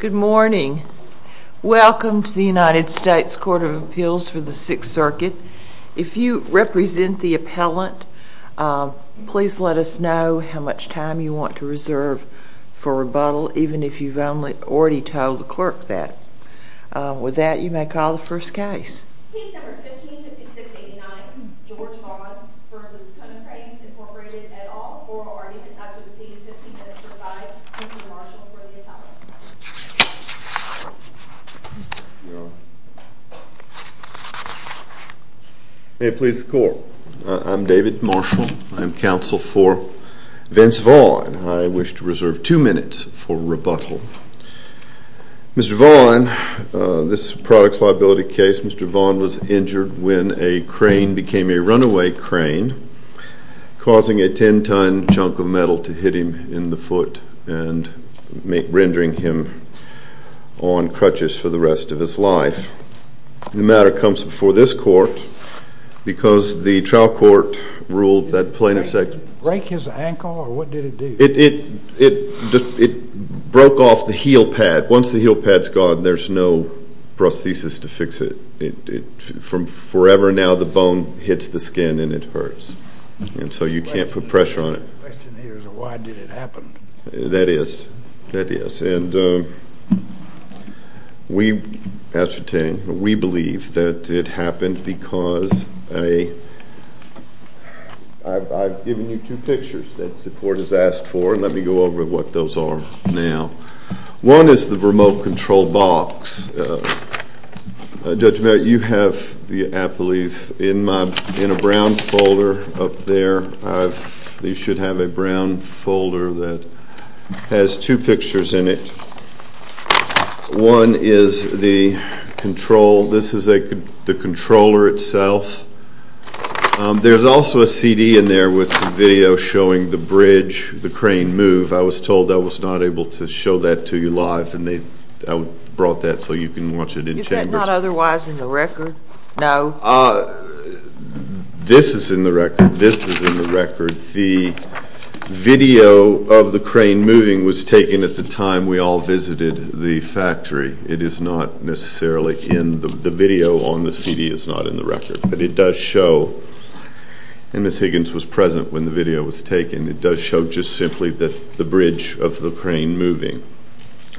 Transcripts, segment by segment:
Good morning. Welcome to the United States Court of Appeals for the Sixth Circuit. If you represent the appellant, please let us know how much time you want to reserve for rebuttal, even if you've already told the clerk that. With that, you may call the first case. Case No. 15-5689, George Vaughn v. Konecranes, Inc., et al., oral argument up to the scene, 15 minutes to the side. Mr. Marshall for the appellant. May it please the Court. I'm David Marshall. I'm counsel for Vince Vaughn. I wish to reserve two minutes for rebuttal. Mr. Vaughn, this is a products liability case. Mr. Vaughn was injured when a crane became a runaway crane, causing a 10-ton chunk of metal to hit him in the foot and rendering him on crutches for the rest of his life. The matter comes before this court because the trial court ruled that plaintiff said... Did it break his ankle, or what did it do? It broke off the heel pad. Once the heel pad's gone, there's no prosthesis to fix it. From forever now, the bone hits the skin and it hurts, and so you can't put pressure on it. The question here is, why did it happen? That is. That is. And we believe that it happened because I've given you two pictures that the court has asked for, and let me go over what those are now. One is the remote control box. Judge Merritt, you have the appellees in a brown folder up there. They should have a brown folder that has two pictures in it. One is the control. This is the controller itself. There's also a CD in there with some video showing the bridge, the crane move. I was told I was not able to show that to you live, and I brought that so you can watch it in chambers. Is that not otherwise in the record now? This is in the record. This is in the record. The video of the crane moving was taken at the time we all visited the factory. It is not necessarily in the video on the CD. It's not in the record. But it does show, and Ms. Higgins was present when the video was taken, it does show just simply the bridge of the crane moving.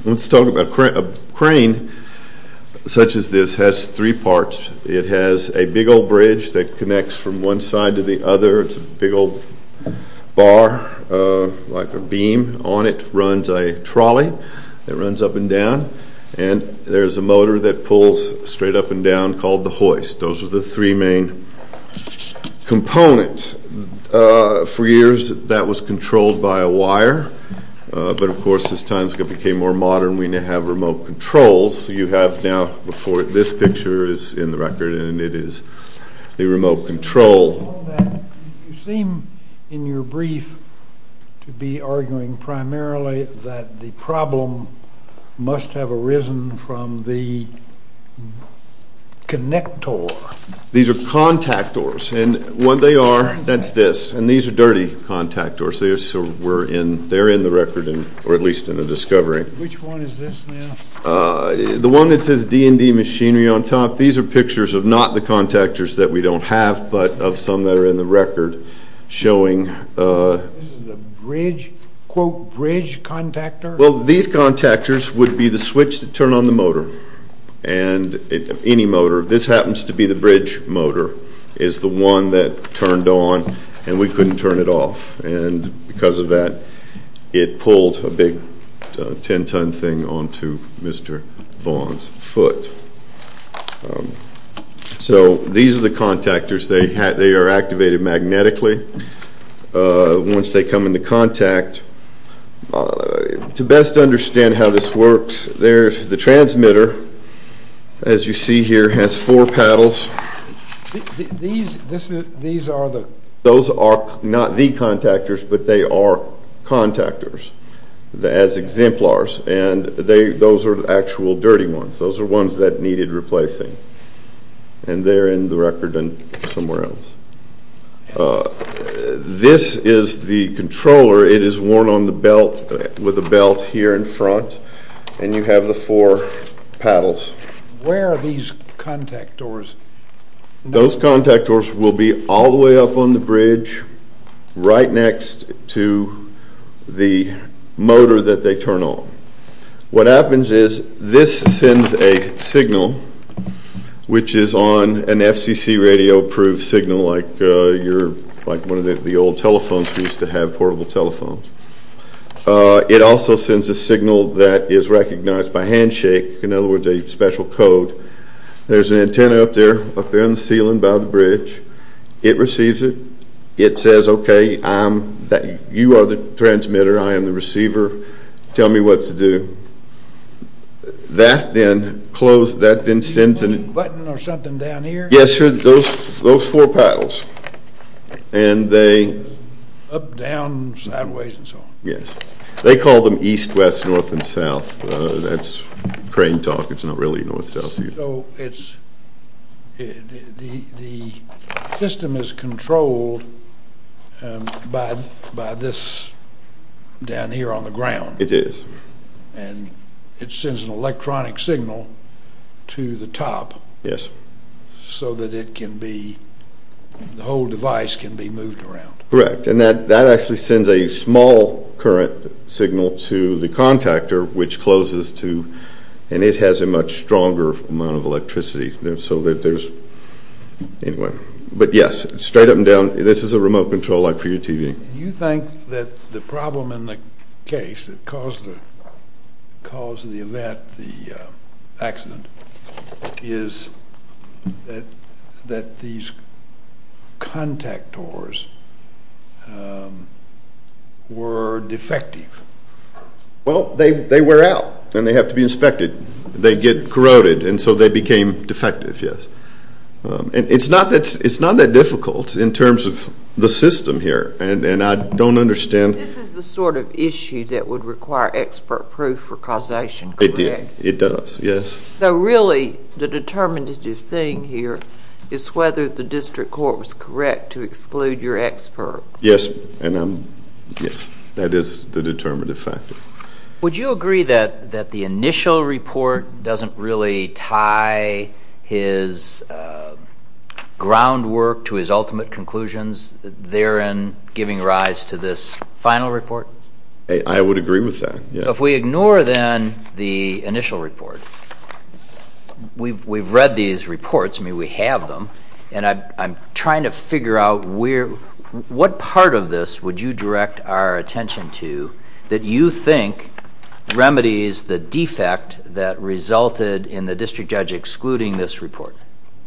Let's talk about a crane such as this has three parts. It has a big old bridge that connects from one side to the other. It's a big old bar like a beam. On it runs a trolley that runs up and down, and there's a motor that pulls straight up and down called the hoist. Those are the three main components. For years, that was controlled by a wire. But, of course, as times became more modern, we now have remote controls. You have now before this picture is in the record, and it is a remote control. You seem in your brief to be arguing primarily that the problem must have arisen from the connector. These are contactors, and what they are, that's this, and these are dirty contactors. They're in the record, or at least in the discovery. Which one is this now? The one that says D&D Machinery on top. These are pictures of not the contactors that we don't have, but of some that are in the record showing. This is a bridge, quote, bridge contactor? Well, these contactors would be the switch to turn on the motor, any motor. This happens to be the bridge motor, is the one that turned on, and we couldn't turn it off. And because of that, it pulled a big 10-ton thing onto Mr. Vaughan's foot. So these are the contactors. They are activated magnetically. Once they come into contact, to best understand how this works, there's the transmitter. As you see here, it has four paddles. These are the... Those are not the contactors, but they are contactors as exemplars, and those are actual dirty ones. Those are ones that needed replacing, and they're in the record and somewhere else. This is the controller. It is worn on the belt, with a belt here in front, and you have the four paddles. Where are these contactors? Those contactors will be all the way up on the bridge, right next to the motor that they turn on. What happens is this sends a signal, which is on an FCC radio-approved signal, like one of the old telephones we used to have, portable telephones. It also sends a signal that is recognized by handshake. In other words, a special code. There's an antenna up there, up there on the ceiling by the bridge. It receives it. It says, okay, you are the transmitter, I am the receiver. Tell me what to do. That then sends a... A button or something down here? Yes, sir, those four paddles. And they... Up, down, sideways, and so on. Yes. They call them east, west, north, and south. That's crane talk. It's not really north-south. So it's... The system is controlled by this down here on the ground. It is. And it sends an electronic signal to the top. Yes. So that it can be... The whole device can be moved around. Correct. And that actually sends a small current signal to the contactor, which closes to... And it has a much stronger amount of electricity. So that there's... Anyway. But, yes, straight up and down. This is a remote control like for your TV. Do you think that the problem in the case that caused the event, the accident, is that these contactors were defective? Well, they wear out, and they have to be inspected. They get corroded, and so they became defective, yes. And it's not that difficult in terms of the system here. And I don't understand... This is the sort of issue that would require expert proof for causation, correct? It does, yes. So really the determinative thing here is whether the district court was correct to exclude your expert. Yes. And I'm... Yes. That is the determinative factor. Would you agree that the initial report doesn't really tie his groundwork to his ultimate conclusions, therein giving rise to this final report? I would agree with that, yes. So if we ignore then the initial report, we've read these reports. I mean, we have them. And I'm trying to figure out what part of this would you direct our attention to that you think remedies the defect that resulted in the district judge excluding this report?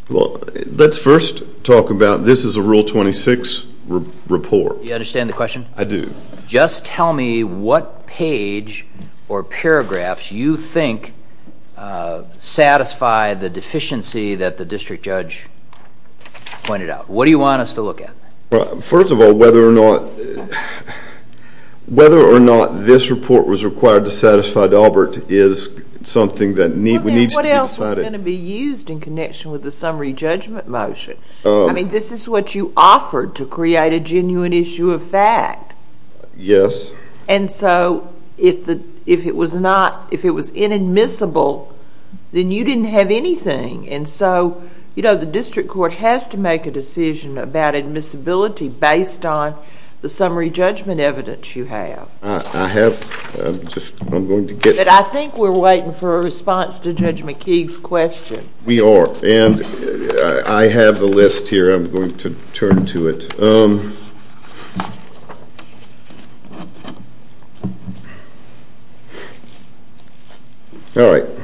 Well, let's first talk about this is a Rule 26 report. Do you understand the question? I do. Just tell me what page or paragraphs you think satisfy the deficiency that the district judge pointed out. What do you want us to look at? First of all, whether or not this report was required to satisfy Daubert is something that needs to be decided. What else is going to be used in connection with the summary judgment motion? I mean, this is what you offered to create a genuine issue of fact. Yes. And so if it was inadmissible, then you didn't have anything. And so, you know, the district court has to make a decision about admissibility based on the summary judgment evidence you have. I have. I'm going to get... But I think we're waiting for a response to Judge McKee's question. We are. And I have the list here. I'm going to turn to it. All right.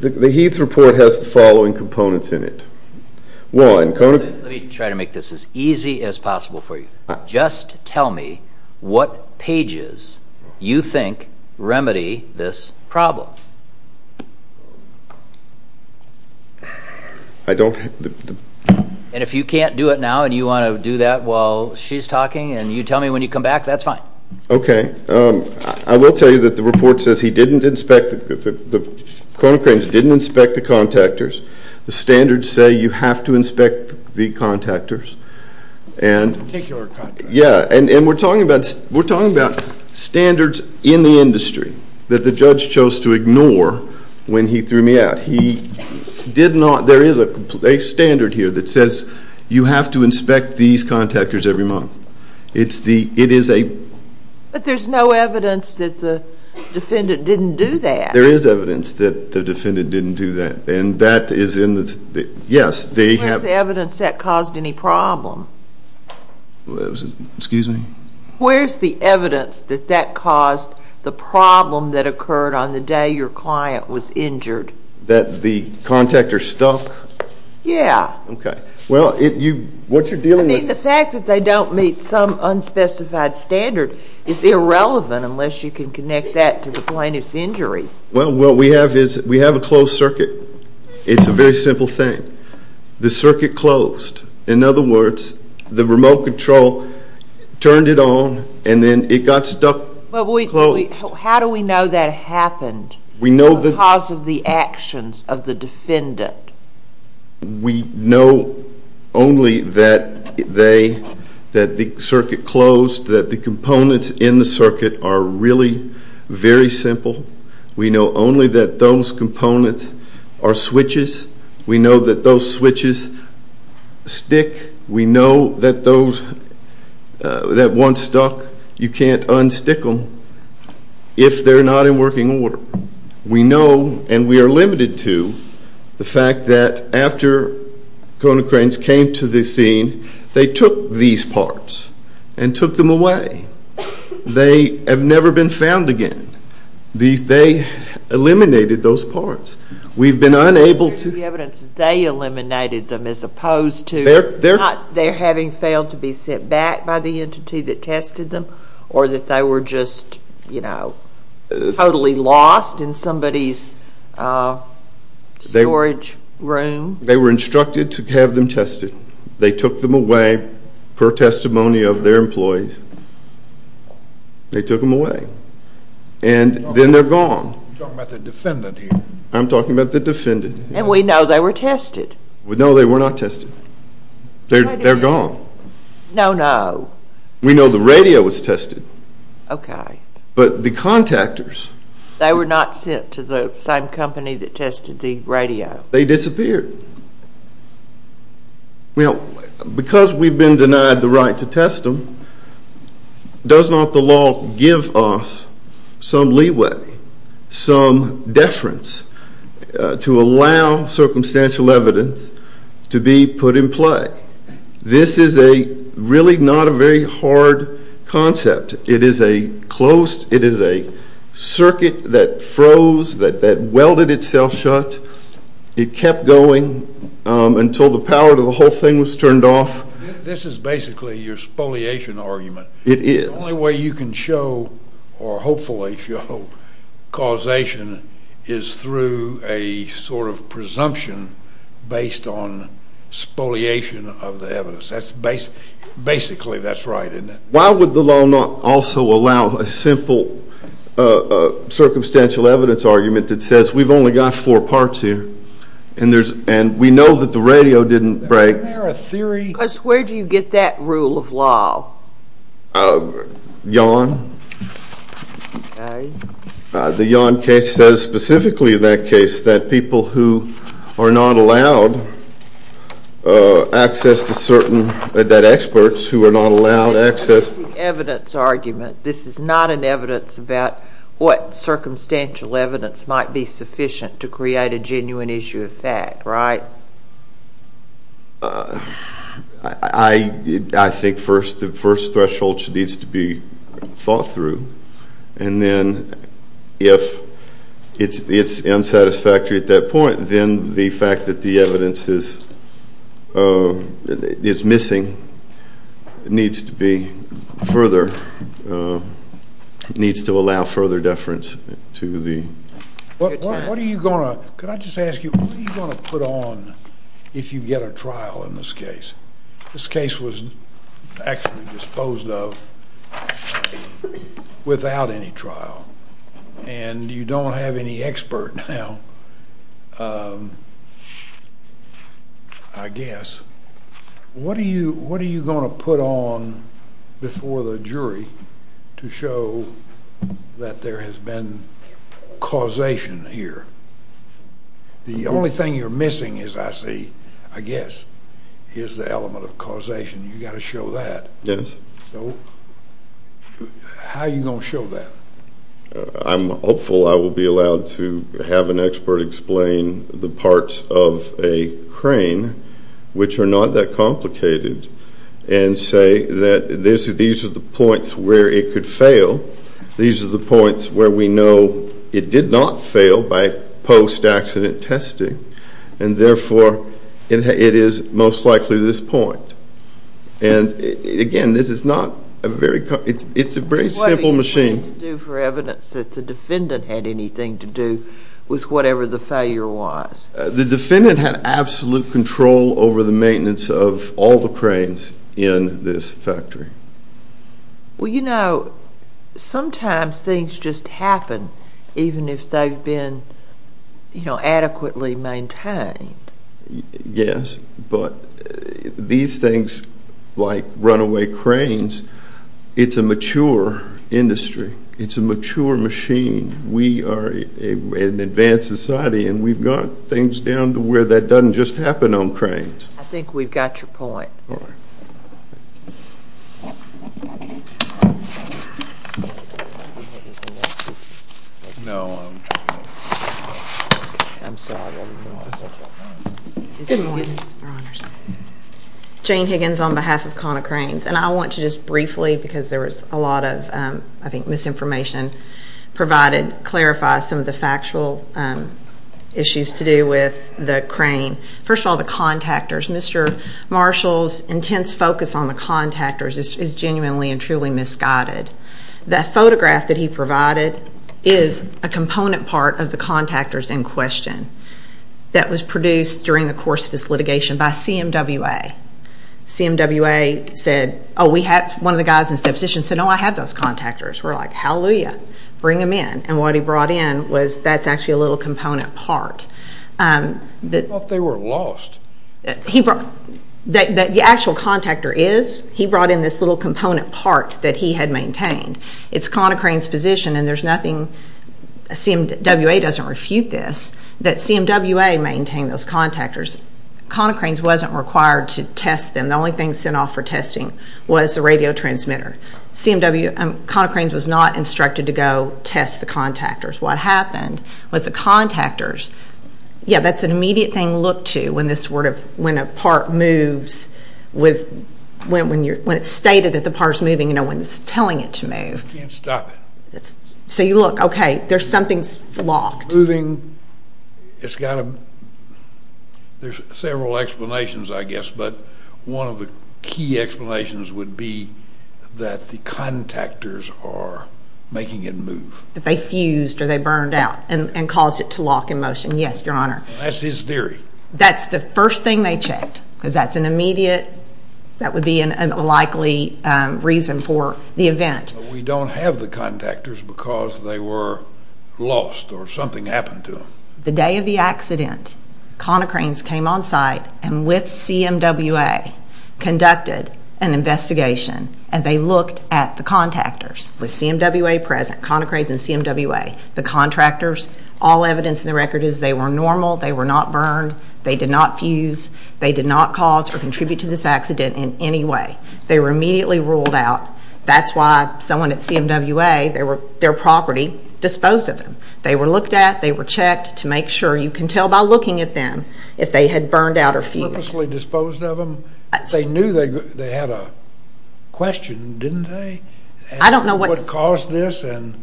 The Heath report has the following components in it. One... Let me try to make this as easy as possible for you. Just tell me what pages you think remedy this problem. I don't... And if you can't do it now and you want to do that while she's talking and you tell me when you come back, that's fine. Okay. I will tell you that the report says he didn't inspect, that the Kronecranes didn't inspect the contactors. The standards say you have to inspect the contactors. And... Particular contractors. Yeah. And we're talking about standards in the industry that the judge chose to ignore when he threw me out. He did not... There is a standard here that says you have to inspect these contactors every month. It's the... It is a... But there's no evidence that the defendant didn't do that. There is evidence that the defendant didn't do that. And that is in the... Yes, they have... Where's the evidence that caused any problem? Excuse me? Where's the evidence that that caused the problem that occurred on the day your client was injured? That the contactor stuck? Yeah. Okay. Well, what you're dealing with... I mean, the fact that they don't meet some unspecified standard is irrelevant unless you can connect that to the plaintiff's injury. Well, what we have is we have a closed circuit. It's a very simple thing. The circuit closed. In other words, the remote control turned it on and then it got stuck closed. How do we know that happened because of the actions of the defendant? We know only that the circuit closed, that the components in the circuit are really very simple. We know only that those components are switches. We know that those switches stick. We know that those that once stuck, you can't unstick them if they're not in working order. We know, and we are limited to, the fact that after Kona Cranes came to the scene, they took these parts and took them away. They have never been found again. They eliminated those parts. We've been unable to... There's the evidence that they eliminated them as opposed to not their having failed to be sent back by the entity that tested them or that they were just, you know, totally lost in somebody's storage room. They were instructed to have them tested. They took them away per testimony of their employees. They took them away. And then they're gone. You're talking about the defendant here. I'm talking about the defendant. And we know they were tested. No, they were not tested. They're gone. No, no. We know the radio was tested. Okay. But the contactors... They were not sent to the same company that tested the radio. They disappeared. Well, because we've been denied the right to test them, does not the law give us some leeway, some deference to allow circumstantial evidence to be put in play? This is a really not a very hard concept. It is a closed... It is a circuit that froze, that welded itself shut. It kept going until the power to the whole thing was turned off. This is basically your spoliation argument. It is. The only way you can show or hopefully show causation is through a sort of presumption based on spoliation of the evidence. Basically, that's right, isn't it? Why would the law not also allow a simple circumstantial evidence argument that says, we've only got four parts here and we know that the radio didn't break? Isn't there a theory? Because where do you get that rule of law? Yon. Okay. The Yon case says specifically in that case that people who are not allowed access to certain... that experts who are not allowed access... This is the evidence argument. This is not an evidence about what circumstantial evidence might be sufficient to create a genuine issue of fact, right? I think the first threshold needs to be thought through, and then if it's unsatisfactory at that point, then the fact that the evidence is missing needs to be further...needs to allow further deference to the... What are you going to...could I just ask you, what are you going to put on if you get a trial in this case? This case was actually disposed of without any trial, and you don't have any expert now, I guess. What are you going to put on before the jury to show that there has been causation here? The only thing you're missing, as I see, I guess, is the element of causation. You've got to show that. Yes. So how are you going to show that? I'm hopeful I will be allowed to have an expert explain the parts of a crane, which are not that complicated, and say that these are the points where it could fail. These are the points where we know it did not fail by post-accident testing, and therefore it is most likely this point. And, again, this is not a very... It's a very simple machine. What are you going to do for evidence that the defendant had anything to do with whatever the failure was? The defendant had absolute control over the maintenance of all the cranes in this factory. Well, you know, sometimes things just happen, even if they've been adequately maintained. Yes, but these things, like runaway cranes, it's a mature industry. It's a mature machine. We are an advanced society, and we've got things down to where that doesn't just happen on cranes. I think we've got your point. All right. Jane Higgins. Jane Higgins on behalf of Kona Cranes. And I want to just briefly, because there was a lot of, I think, misinformation provided, clarify some of the factual issues to do with the crane. First of all, the contactors. Mr. Marshall's intense focus on the contactors is genuinely and truly misguided. That photograph that he provided is a component part of the contactors in question that was produced during the course of this litigation by CMWA. CMWA said, oh, one of the guys in the deposition said, oh, I had those contactors. We're like, hallelujah, bring them in. And what he brought in was that's actually a little component part. I thought they were lost. The actual contactor is. He brought in this little component part that he had maintained. It's Kona Cranes' position, and there's nothing, CMWA doesn't refute this, that CMWA maintained those contactors. Kona Cranes wasn't required to test them. The only thing sent off for testing was the radio transmitter. Kona Cranes was not instructed to go test the contactors. What happened was the contactors, yeah, that's an immediate thing to look to when a part moves with, when it's stated that the part is moving and no one's telling it to move. You can't stop it. So you look, okay, there's something's locked. Moving, it's got a, there's several explanations, I guess, but one of the key explanations would be that the contactors are making it move. That they fused or they burned out and caused it to lock in motion, yes, Your Honor. That's his theory. That's the first thing they checked because that's an immediate, that would be a likely reason for the event. We don't have the contactors because they were lost or something happened to them. The day of the accident, Kona Cranes came on site and with CMWA conducted an investigation, and they looked at the contactors. With CMWA present, Kona Cranes and CMWA, the contractors, all evidence in the record is they were normal. They were not burned. They did not fuse. They did not cause or contribute to this accident in any way. They were immediately ruled out. That's why someone at CMWA, their property, disposed of them. They were looked at. They were checked to make sure. You can tell by looking at them if they had burned out or fused. Purposely disposed of them? They knew they had a question, didn't they? I don't know what caused this and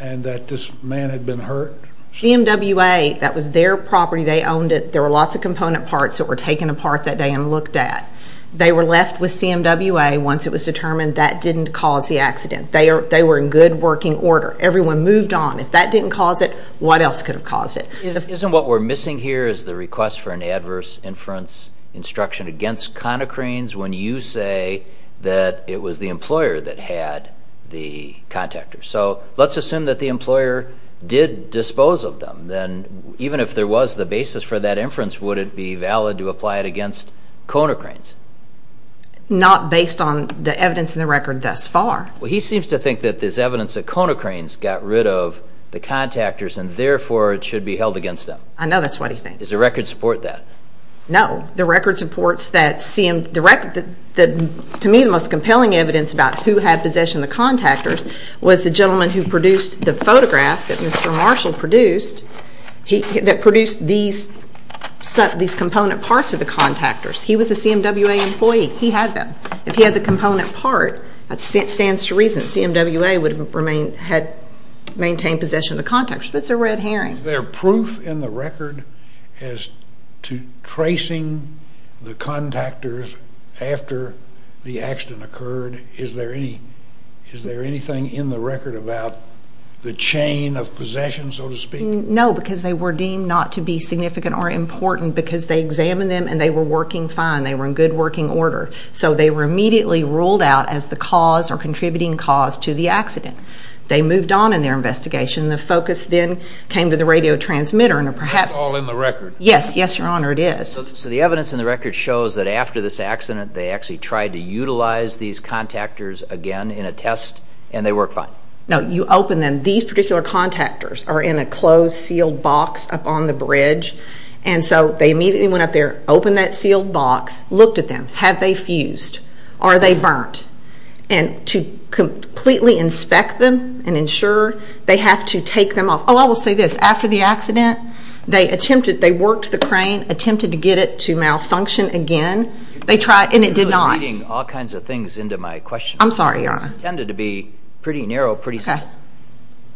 that this man had been hurt. CMWA, that was their property. They owned it. There were lots of component parts that were taken apart that day and looked at. They were left with CMWA once it was determined that didn't cause the accident. They were in good working order. Everyone moved on. If that didn't cause it, what else could have caused it? Isn't what we're missing here is the request for an adverse inference instruction when you say that it was the employer that had the contactors. Let's assume that the employer did dispose of them. Then even if there was the basis for that inference, would it be valid to apply it against Conocranes? Not based on the evidence in the record thus far. He seems to think that there's evidence that Conocranes got rid of the contactors and therefore it should be held against them. I know that's what he thinks. Does the record support that? No. The record supports that, to me, the most compelling evidence about who had possession of the contactors was the gentleman who produced the photograph that Mr. Marshall produced that produced these component parts of the contactors. He was a CMWA employee. He had them. If he had the component part, that stands to reason that CMWA would have maintained possession of the contactors. That's a red herring. Is there proof in the record as to tracing the contactors after the accident occurred? Is there anything in the record about the chain of possession, so to speak? No, because they were deemed not to be significant or important because they examined them and they were working fine. They were in good working order. So they were immediately ruled out as the cause or contributing cause to the accident. They moved on in their investigation. The focus then came to the radio transmitter. That's all in the record. Yes, Your Honor, it is. So the evidence in the record shows that after this accident they actually tried to utilize these contactors again in a test and they worked fine. No, you open them. These particular contactors are in a closed, sealed box up on the bridge. And so they immediately went up there, opened that sealed box, looked at them. Have they fused? Are they burnt? And to completely inspect them and ensure, they have to take them off. Oh, I will say this. After the accident, they worked the crane, attempted to get it to malfunction again, and it did not. You're reading all kinds of things into my question. I'm sorry, Your Honor. It tended to be pretty narrow, pretty simple.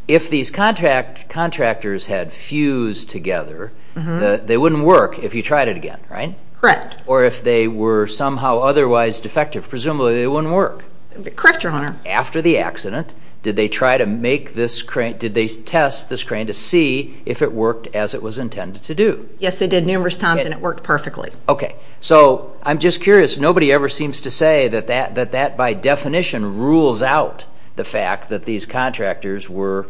If these contractors had fused together, they wouldn't work if you tried it again, right? Correct. Or if they were somehow otherwise defective, presumably they wouldn't work. Correct, Your Honor. After the accident, did they try to make this crane, did they test this crane to see if it worked as it was intended to do? Yes, they did numerous times and it worked perfectly. Okay. So I'm just curious. Nobody ever seems to say that that by definition rules out the fact that these contractors were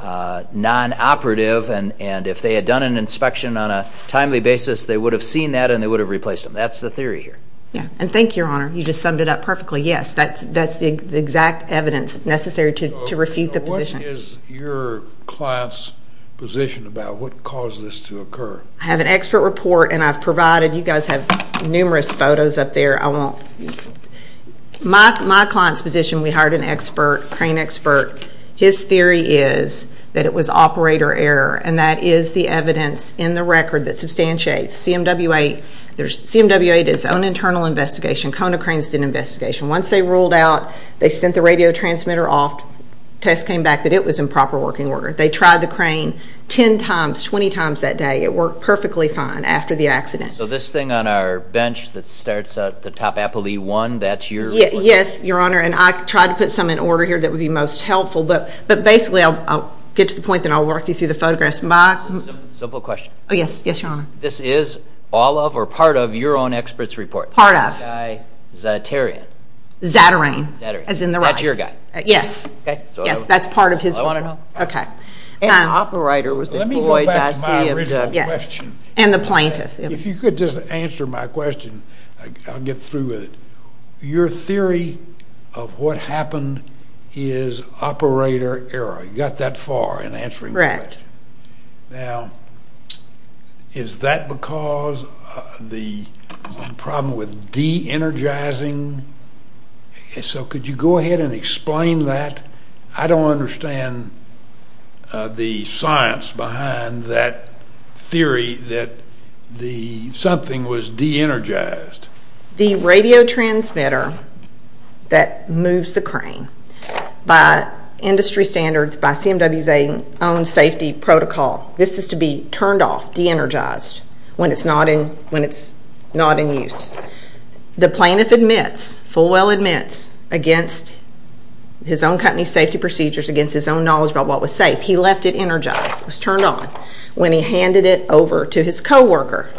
non-operative and if they had done an inspection on a timely basis, they would have seen that and they would have replaced them. That's the theory here. Yeah. And thank you, Your Honor. You just summed it up perfectly. Yes, that's the exact evidence necessary to refute the position. What is your client's position about what caused this to occur? I have an expert report and I've provided. You guys have numerous photos up there. My client's position, we hired an expert, crane expert. His theory is that it was operator error and that is the evidence in the record that substantiates CMWA. CMWA did its own internal investigation. Kona Cranes did an investigation. Once they ruled out, they sent the radio transmitter off, test came back that it was in proper working order. They tried the crane 10 times, 20 times that day. It worked perfectly fine after the accident. So this thing on our bench that starts at the top, Apple E1, that's your report? Yes, Your Honor. I tried to put some in order here that would be most helpful, but basically I'll get to the point then I'll work you through the photographs. Simple question. Yes, Your Honor. This is all of or part of your own expert's report? Part of. Zatarain. Zatarain. As in the rice. That's your guy. Yes. Yes, that's part of his report. I want to know. Okay. And the operator was employed by CMWA. Let me go back to my original question. Yes, and the plaintiff. If you could just answer my question, I'll get through with it. Your theory of what happened is operator error. You got that far in answering my question. Correct. Now, is that because the problem with de-energizing? So could you go ahead and explain that? I don't understand the science behind that theory that something was de-energized. The radio transmitter that moves the crane, by industry standards, by CMWA's own safety protocol, this is to be turned off, de-energized, when it's not in use. The plaintiff admits, Fullwell admits, against his own company's safety procedures, against his own knowledge about what was safe, he left it energized, it was turned on, when he handed it over to his co-worker.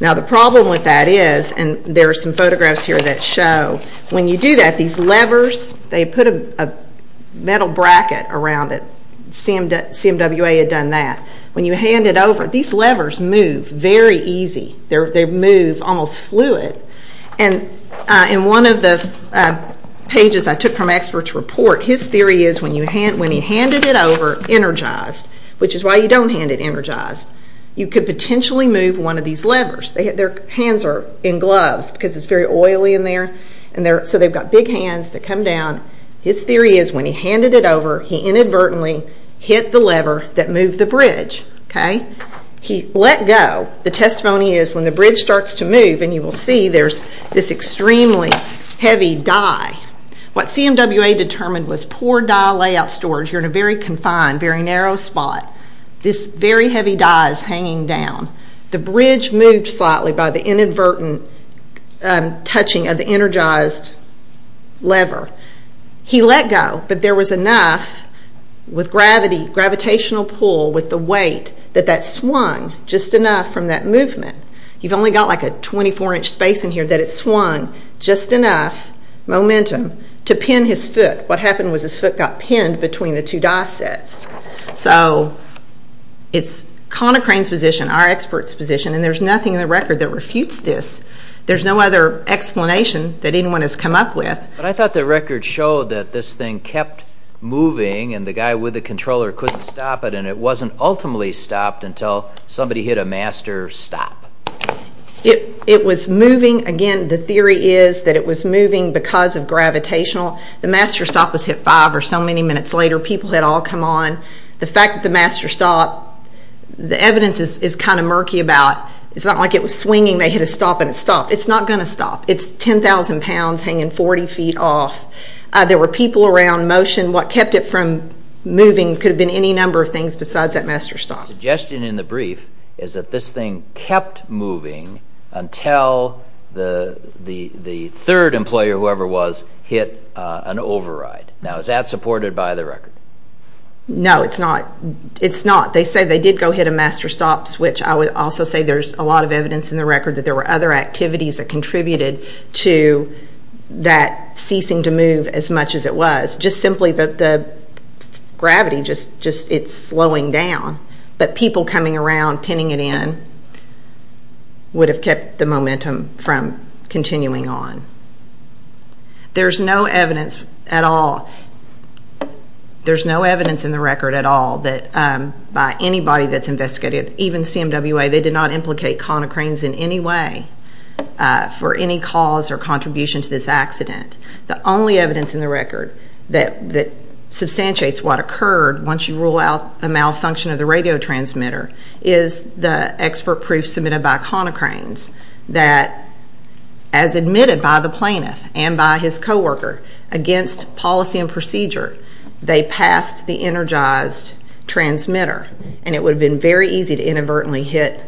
Now, the problem with that is, and there are some photographs here that show, when you do that, these levers, they put a metal bracket around it. CMWA had done that. When you hand it over, these levers move very easy. They move almost fluid. In one of the pages I took from experts' report, his theory is when he handed it over energized, which is why you don't hand it energized, you could potentially move one of these levers. Their hands are in gloves because it's very oily in there, so they've got big hands that come down. His theory is when he handed it over, he inadvertently hit the lever that moved the bridge. He let go. The testimony is when the bridge starts to move, and you will see there's this extremely heavy die. What CMWA determined was poor die layout storage. You're in a very confined, very narrow spot. This very heavy die is hanging down. The bridge moved slightly by the inadvertent touching of the energized lever. He let go, but there was enough with gravitational pull, with the weight, that that swung just enough from that movement. You've only got a 24-inch space in here that it swung just enough momentum to pin his foot. What happened was his foot got pinned between the two die sets. So it's Conocrane's position, our expert's position, and there's nothing in the record that refutes this. There's no other explanation that anyone has come up with. But I thought the record showed that this thing kept moving, and the guy with the controller couldn't stop it, and it wasn't ultimately stopped until somebody hit a master stop. It was moving, again, the theory is that it was moving because of gravitational. The master stop was hit five or so many minutes later. People had all come on. The fact that the master stop, the evidence is kind of murky about, it's not like it was swinging, they hit a stop, and it stopped. It's not going to stop. It's 10,000 pounds hanging 40 feet off. There were people around, motion. What kept it from moving could have been any number of things besides that master stop. The suggestion in the brief is that this thing kept moving until the third employer, whoever it was, hit an override. Now, is that supported by the record? No, it's not. They say they did go hit a master stop, which I would also say there's a lot of evidence in the record that there were other activities that contributed to that ceasing to move as much as it was. Just simply that the gravity, it's slowing down. But people coming around, pinning it in, would have kept the momentum from continuing on. There's no evidence at all, there's no evidence in the record at all that by anybody that's investigated, even CMWA, they did not implicate conocranes in any way for any cause or contribution to this accident. The only evidence in the record that substantiates what occurred once you rule out a malfunction of the radio transmitter is the expert proof submitted by conocranes that, as admitted by the plaintiff and by his co-worker, against policy and procedure, they passed the energized transmitter, and it would have been very easy to inadvertently hit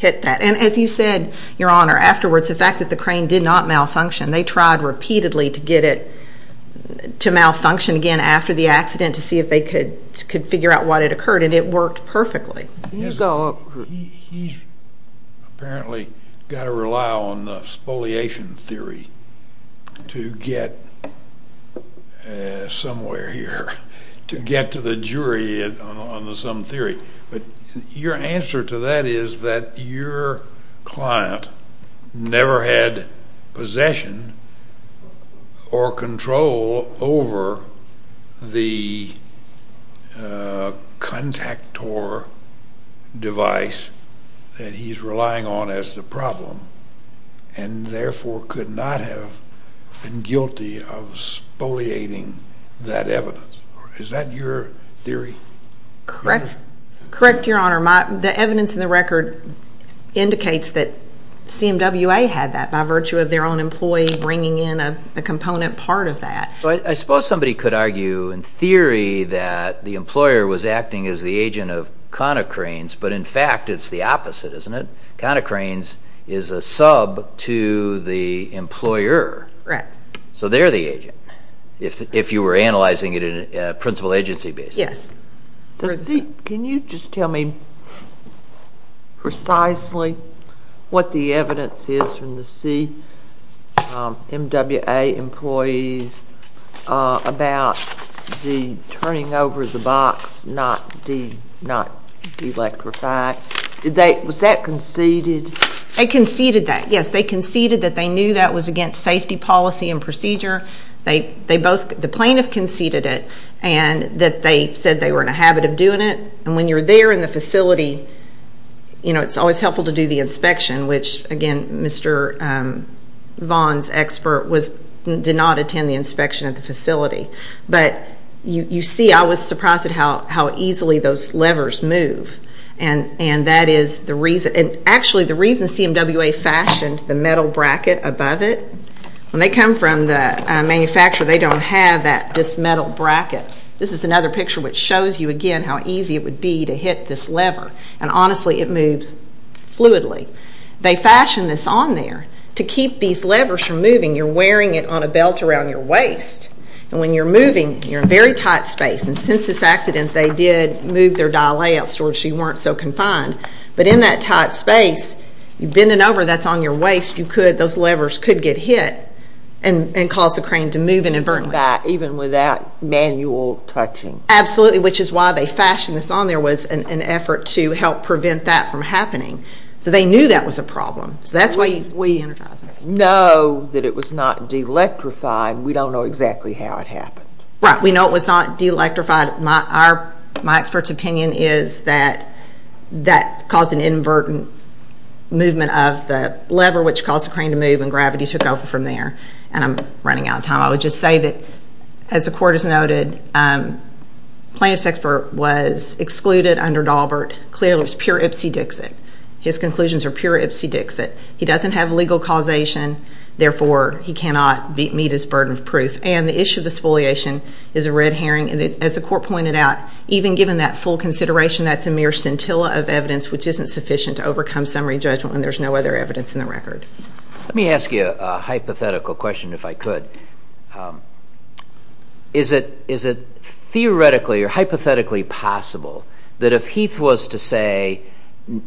that. And as you said, Your Honor, afterwards, the fact that the crane did not malfunction, they tried repeatedly to get it to malfunction again after the accident to see if they could figure out what had occurred, and it worked perfectly. He's apparently got to rely on the spoliation theory to get somewhere here, to get to the jury on some theory. But your answer to that is that your client never had possession or control over the contactor device that he's relying on as the problem and therefore could not have been guilty of spoliating that evidence. Is that your theory? Correct, Your Honor. The evidence in the record indicates that CMWA had that by virtue of their own employee bringing in a component part of that. I suppose somebody could argue in theory that the employer was acting as the agent of conocranes, but in fact it's the opposite, isn't it? Conocranes is a sub to the employer. Correct. So they're the agent, if you were analyzing it in a principal agency basis. Yes. Can you just tell me precisely what the evidence is from the CMWA employees about the turning over the box, not de-electrify? Was that conceded? They conceded that, yes. They conceded that they knew that was against safety policy and procedure. The plaintiff conceded it and that they said they were in a habit of doing it, and when you're there in the facility, it's always helpful to do the inspection, which, again, Mr. Vaughn's expert did not attend the inspection at the facility. But you see I was surprised at how easily those levers move, and actually the reason CMWA fashioned the metal bracket above it, when they come from the manufacturer, they don't have this metal bracket. This is another picture which shows you, again, how easy it would be to hit this lever, and honestly it moves fluidly. They fashioned this on there. To keep these levers from moving, you're wearing it on a belt around your waist, and when you're moving, you're in a very tight space, and since this accident they did move their dial layout so you weren't so confined, but in that tight space, you bend it over, that's on your waist, those levers could get hit and cause the crane to move inadvertently. Even without manual touching. Absolutely, which is why they fashioned this on there, was an effort to help prevent that from happening. So they knew that was a problem. We know that it was not de-electrified. We don't know exactly how it happened. Right, we know it was not de-electrified. My expert's opinion is that that caused an inadvertent movement of the lever, which caused the crane to move and gravity took over from there, and I'm running out of time. I would just say that, as the Court has noted, plaintiff's expert was excluded under Daubert. Clearly it was pure ipsy-dixit. His conclusions are pure ipsy-dixit. He doesn't have legal causation, therefore he cannot meet his burden of proof. And the issue of the spoliation is a red herring. As the Court pointed out, even given that full consideration, that's a mere scintilla of evidence which isn't sufficient to overcome summary judgment, and there's no other evidence in the record. Let me ask you a hypothetical question if I could. Is it theoretically or hypothetically possible that if Heath was to say,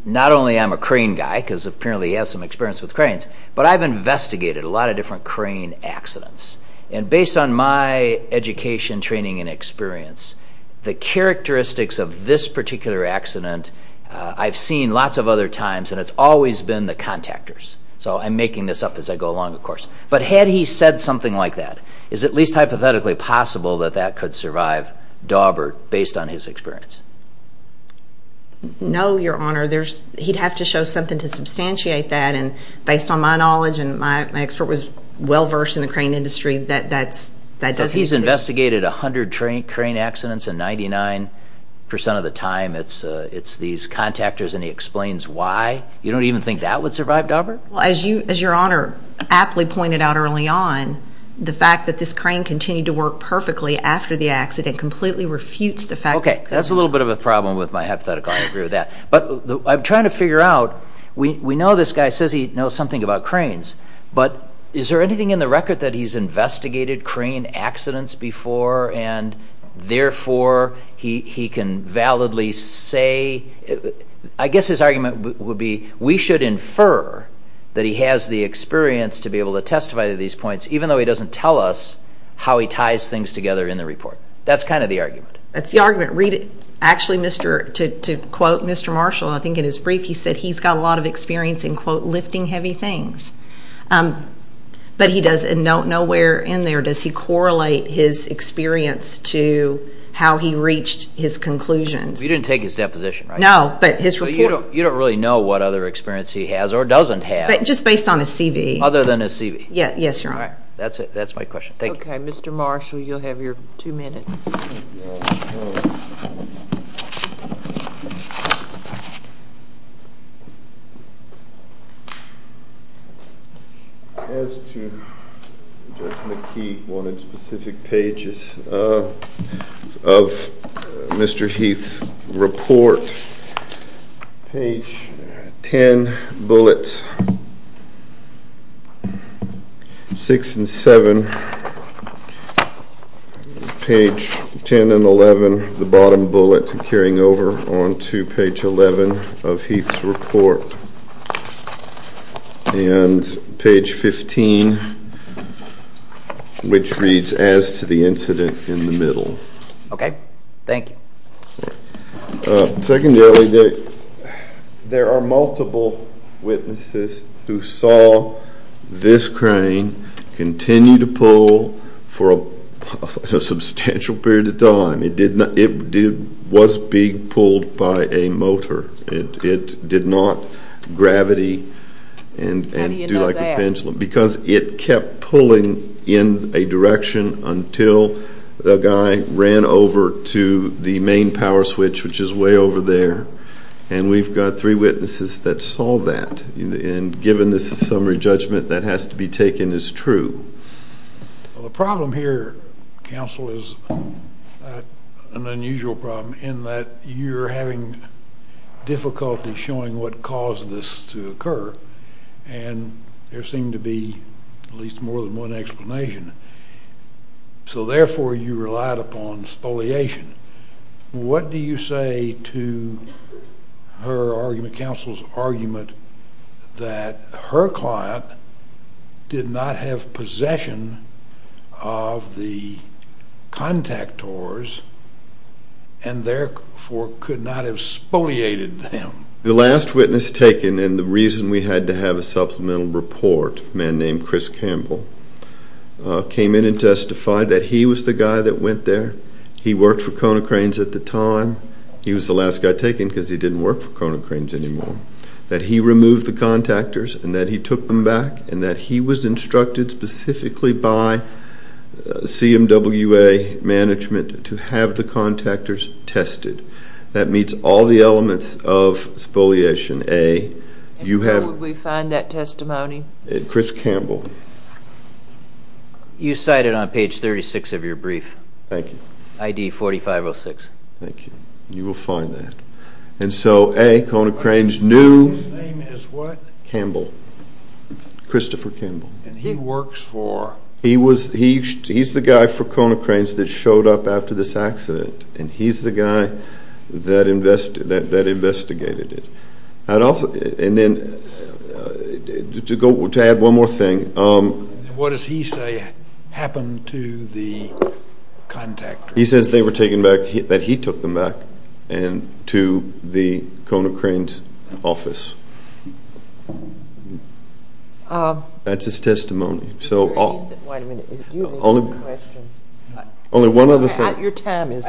not only I'm a crane guy because apparently he has some experience with cranes, but I've investigated a lot of different crane accidents, and based on my education, training, and experience, the characteristics of this particular accident I've seen lots of other times and it's always been the contactors. So I'm making this up as I go along, of course. But had he said something like that, is it at least hypothetically possible that that could survive Daubert based on his experience? No, Your Honor. He'd have to show something to substantiate that, and based on my knowledge, and my expert was well-versed in the crane industry, that doesn't exist. If he's investigated 100 crane accidents and 99% of the time it's these contactors and he explains why, you don't even think that would survive Daubert? Well, as Your Honor aptly pointed out early on, the fact that this crane continued to work perfectly after the accident completely refutes the fact that it could. Okay, that's a little bit of a problem with my hypothetical. I agree with that. But I'm trying to figure out, we know this guy says he knows something about cranes, but is there anything in the record that he's investigated crane accidents before and therefore he can validly say? I guess his argument would be we should infer that he has the experience to be able to testify to these points, even though he doesn't tell us how he ties things together in the report. That's kind of the argument. That's the argument. Actually, to quote Mr. Marshall, I think in his brief he said he's got a lot of experience in, quote, lifting heavy things. But nowhere in there does he correlate his experience to how he reached his conclusions. You didn't take his deposition, right? No, but his report. So you don't really know what other experience he has or doesn't have. Just based on his CV. Other than his CV. Yes, Your Honor. All right, that's my question. Thank you. Okay, Mr. Marshall, you'll have your two minutes. As to Judge McKee, one of the specific pages of Mr. Heath's report, page 10, bullets 6 and 7, page 10 and 11, the bottom bullet carrying over onto page 11 of Heath's report. And page 15, which reads, as to the incident in the middle. Okay, thank you. Secondarily, there are multiple witnesses who saw this crane continue to pull for a substantial period of time. It was being pulled by a motor. It did not gravity and do like a pendulum. How do you know that? Because it kept pulling in a direction until the guy ran over to the main power switch, which is way over there. And we've got three witnesses that saw that. And given this summary judgment, that has to be taken as true. Well, the problem here, counsel, is an unusual problem in that you're having difficulty showing what caused this to occur. And there seemed to be at least more than one explanation. So, therefore, you relied upon spoliation. What do you say to her argument, counsel's argument, that her client did not have possession of the contactors and, therefore, could not have spoliated them? The last witness taken and the reason we had to have a supplemental report, a man named Chris Campbell, came in and testified that he was the guy that went there. He worked for Kona Cranes at the time. He was the last guy taken because he didn't work for Kona Cranes anymore. That he removed the contactors and that he took them back and that he was instructed specifically by CMWA management to have the contactors tested. That meets all the elements of spoliation. And where would we find that testimony? Chris Campbell. You cite it on page 36 of your brief. Thank you. ID 4506. Thank you. You will find that. And so, A, Kona Cranes knew Campbell, Christopher Campbell. And he works for? He's the guy for Kona Cranes that showed up after this accident. And he's the guy that investigated it. And then to add one more thing. What does he say happened to the contactors? He says they were taken back, that he took them back to the Kona Cranes office. That's his testimony. Only one other thing.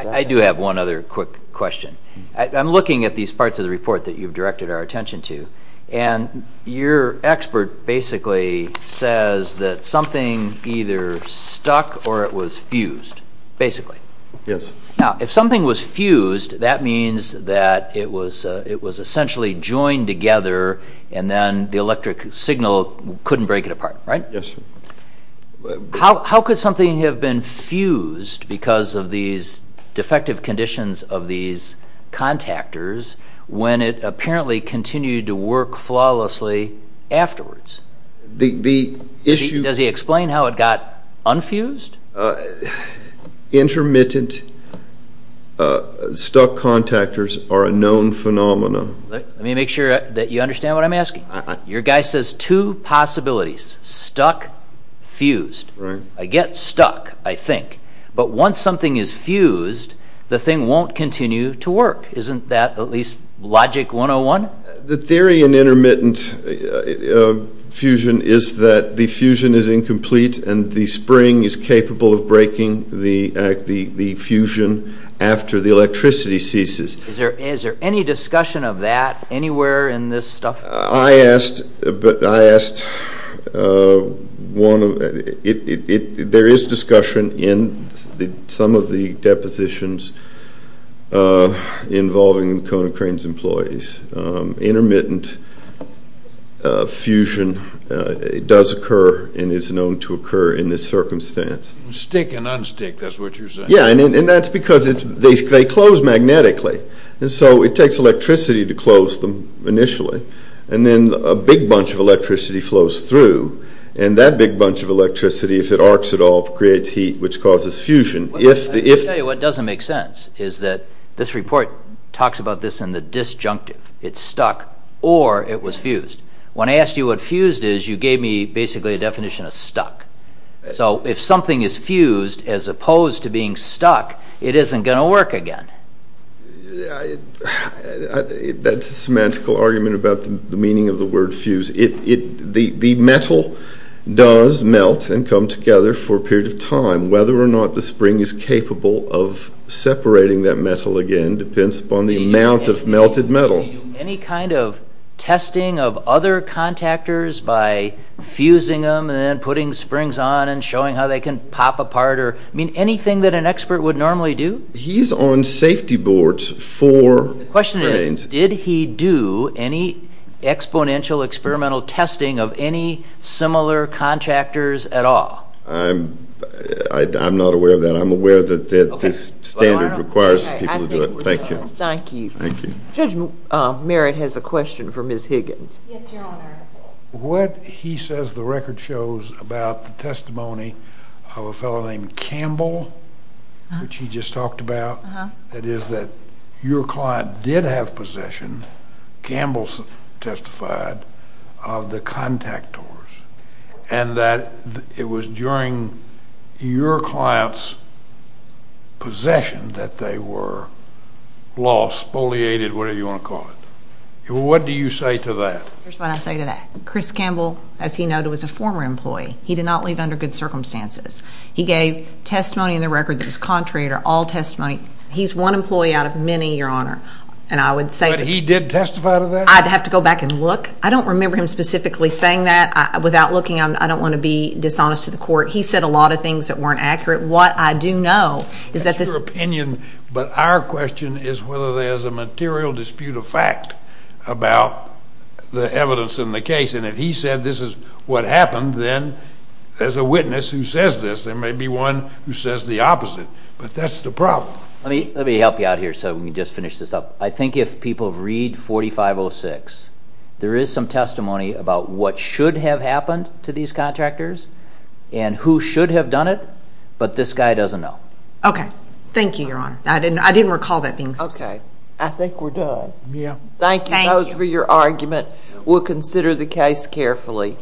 I do have one other quick question. I'm looking at these parts of the report that you've directed our attention to. And your expert basically says that something either stuck or it was fused, basically. Yes. Now, if something was fused, that means that it was essentially joined together and then the electric signal couldn't break it apart, right? Yes. How could something have been fused because of these defective conditions of these contactors when it apparently continued to work flawlessly afterwards? Does he explain how it got unfused? Intermittent stuck contactors are a known phenomenon. Let me make sure that you understand what I'm asking. Your guy says two possibilities. Stuck, fused. I get stuck, I think. But once something is fused, the thing won't continue to work. Isn't that at least logic 101? The theory in intermittent fusion is that the fusion is incomplete and the spring is capable of breaking the fusion after the electricity ceases. Is there any discussion of that anywhere in this stuff? I asked one of them. There is discussion in some of the depositions involving Kona Crane's employees. Intermittent fusion does occur and is known to occur in this circumstance. Stick and unstick, that's what you're saying. Yeah, and that's because they close magnetically. It takes electricity to close them initially. Then a big bunch of electricity flows through. That big bunch of electricity, if it arcs at all, creates heat which causes fusion. Let me tell you what doesn't make sense. This report talks about this in the disjunctive. It's stuck or it was fused. When I asked you what fused is, you gave me basically a definition of stuck. If something is fused as opposed to being stuck, it isn't going to work again. That's a semantical argument about the meaning of the word fuse. The metal does melt and come together for a period of time. Whether or not the spring is capable of separating that metal again depends upon the amount of melted metal. Any kind of testing of other contactors by fusing them and then putting springs on and showing how they can pop apart or anything that an expert would normally do? He's on safety boards for brains. The question is, did he do any exponential experimental testing of any similar contractors at all? I'm not aware of that. I'm aware that this standard requires people to do it. Thank you. Judge Merritt has a question for Ms. Higgins. Yes, Your Honor. What he says the record shows about the testimony of a fellow named Campbell, which he just talked about, that is that your client did have possession, Campbell testified, of the contactors, and that it was during your client's possession that they were lost, bulliated, whatever you want to call it. What do you say to that? Here's what I say to that. Chris Campbell, as he noted, was a former employee. He did not leave under good circumstances. He gave testimony in the record that was contrary to all testimony. He's one employee out of many, Your Honor. But he did testify to that? I'd have to go back and look. I don't remember him specifically saying that. Without looking, I don't want to be dishonest to the court. He said a lot of things that weren't accurate. What I do know is that this— That's your opinion, but our question is whether there's a material dispute of fact about the evidence in the case. And if he said this is what happened, then there's a witness who says this. There may be one who says the opposite. But that's the problem. Let me help you out here so we can just finish this up. I think if people read 4506, there is some testimony about what should have happened to these contractors and who should have done it, but this guy doesn't know. Okay. Thank you, Your Honor. I didn't recall that being said. Okay. I think we're done. Thank you both for your argument. We'll consider the case carefully.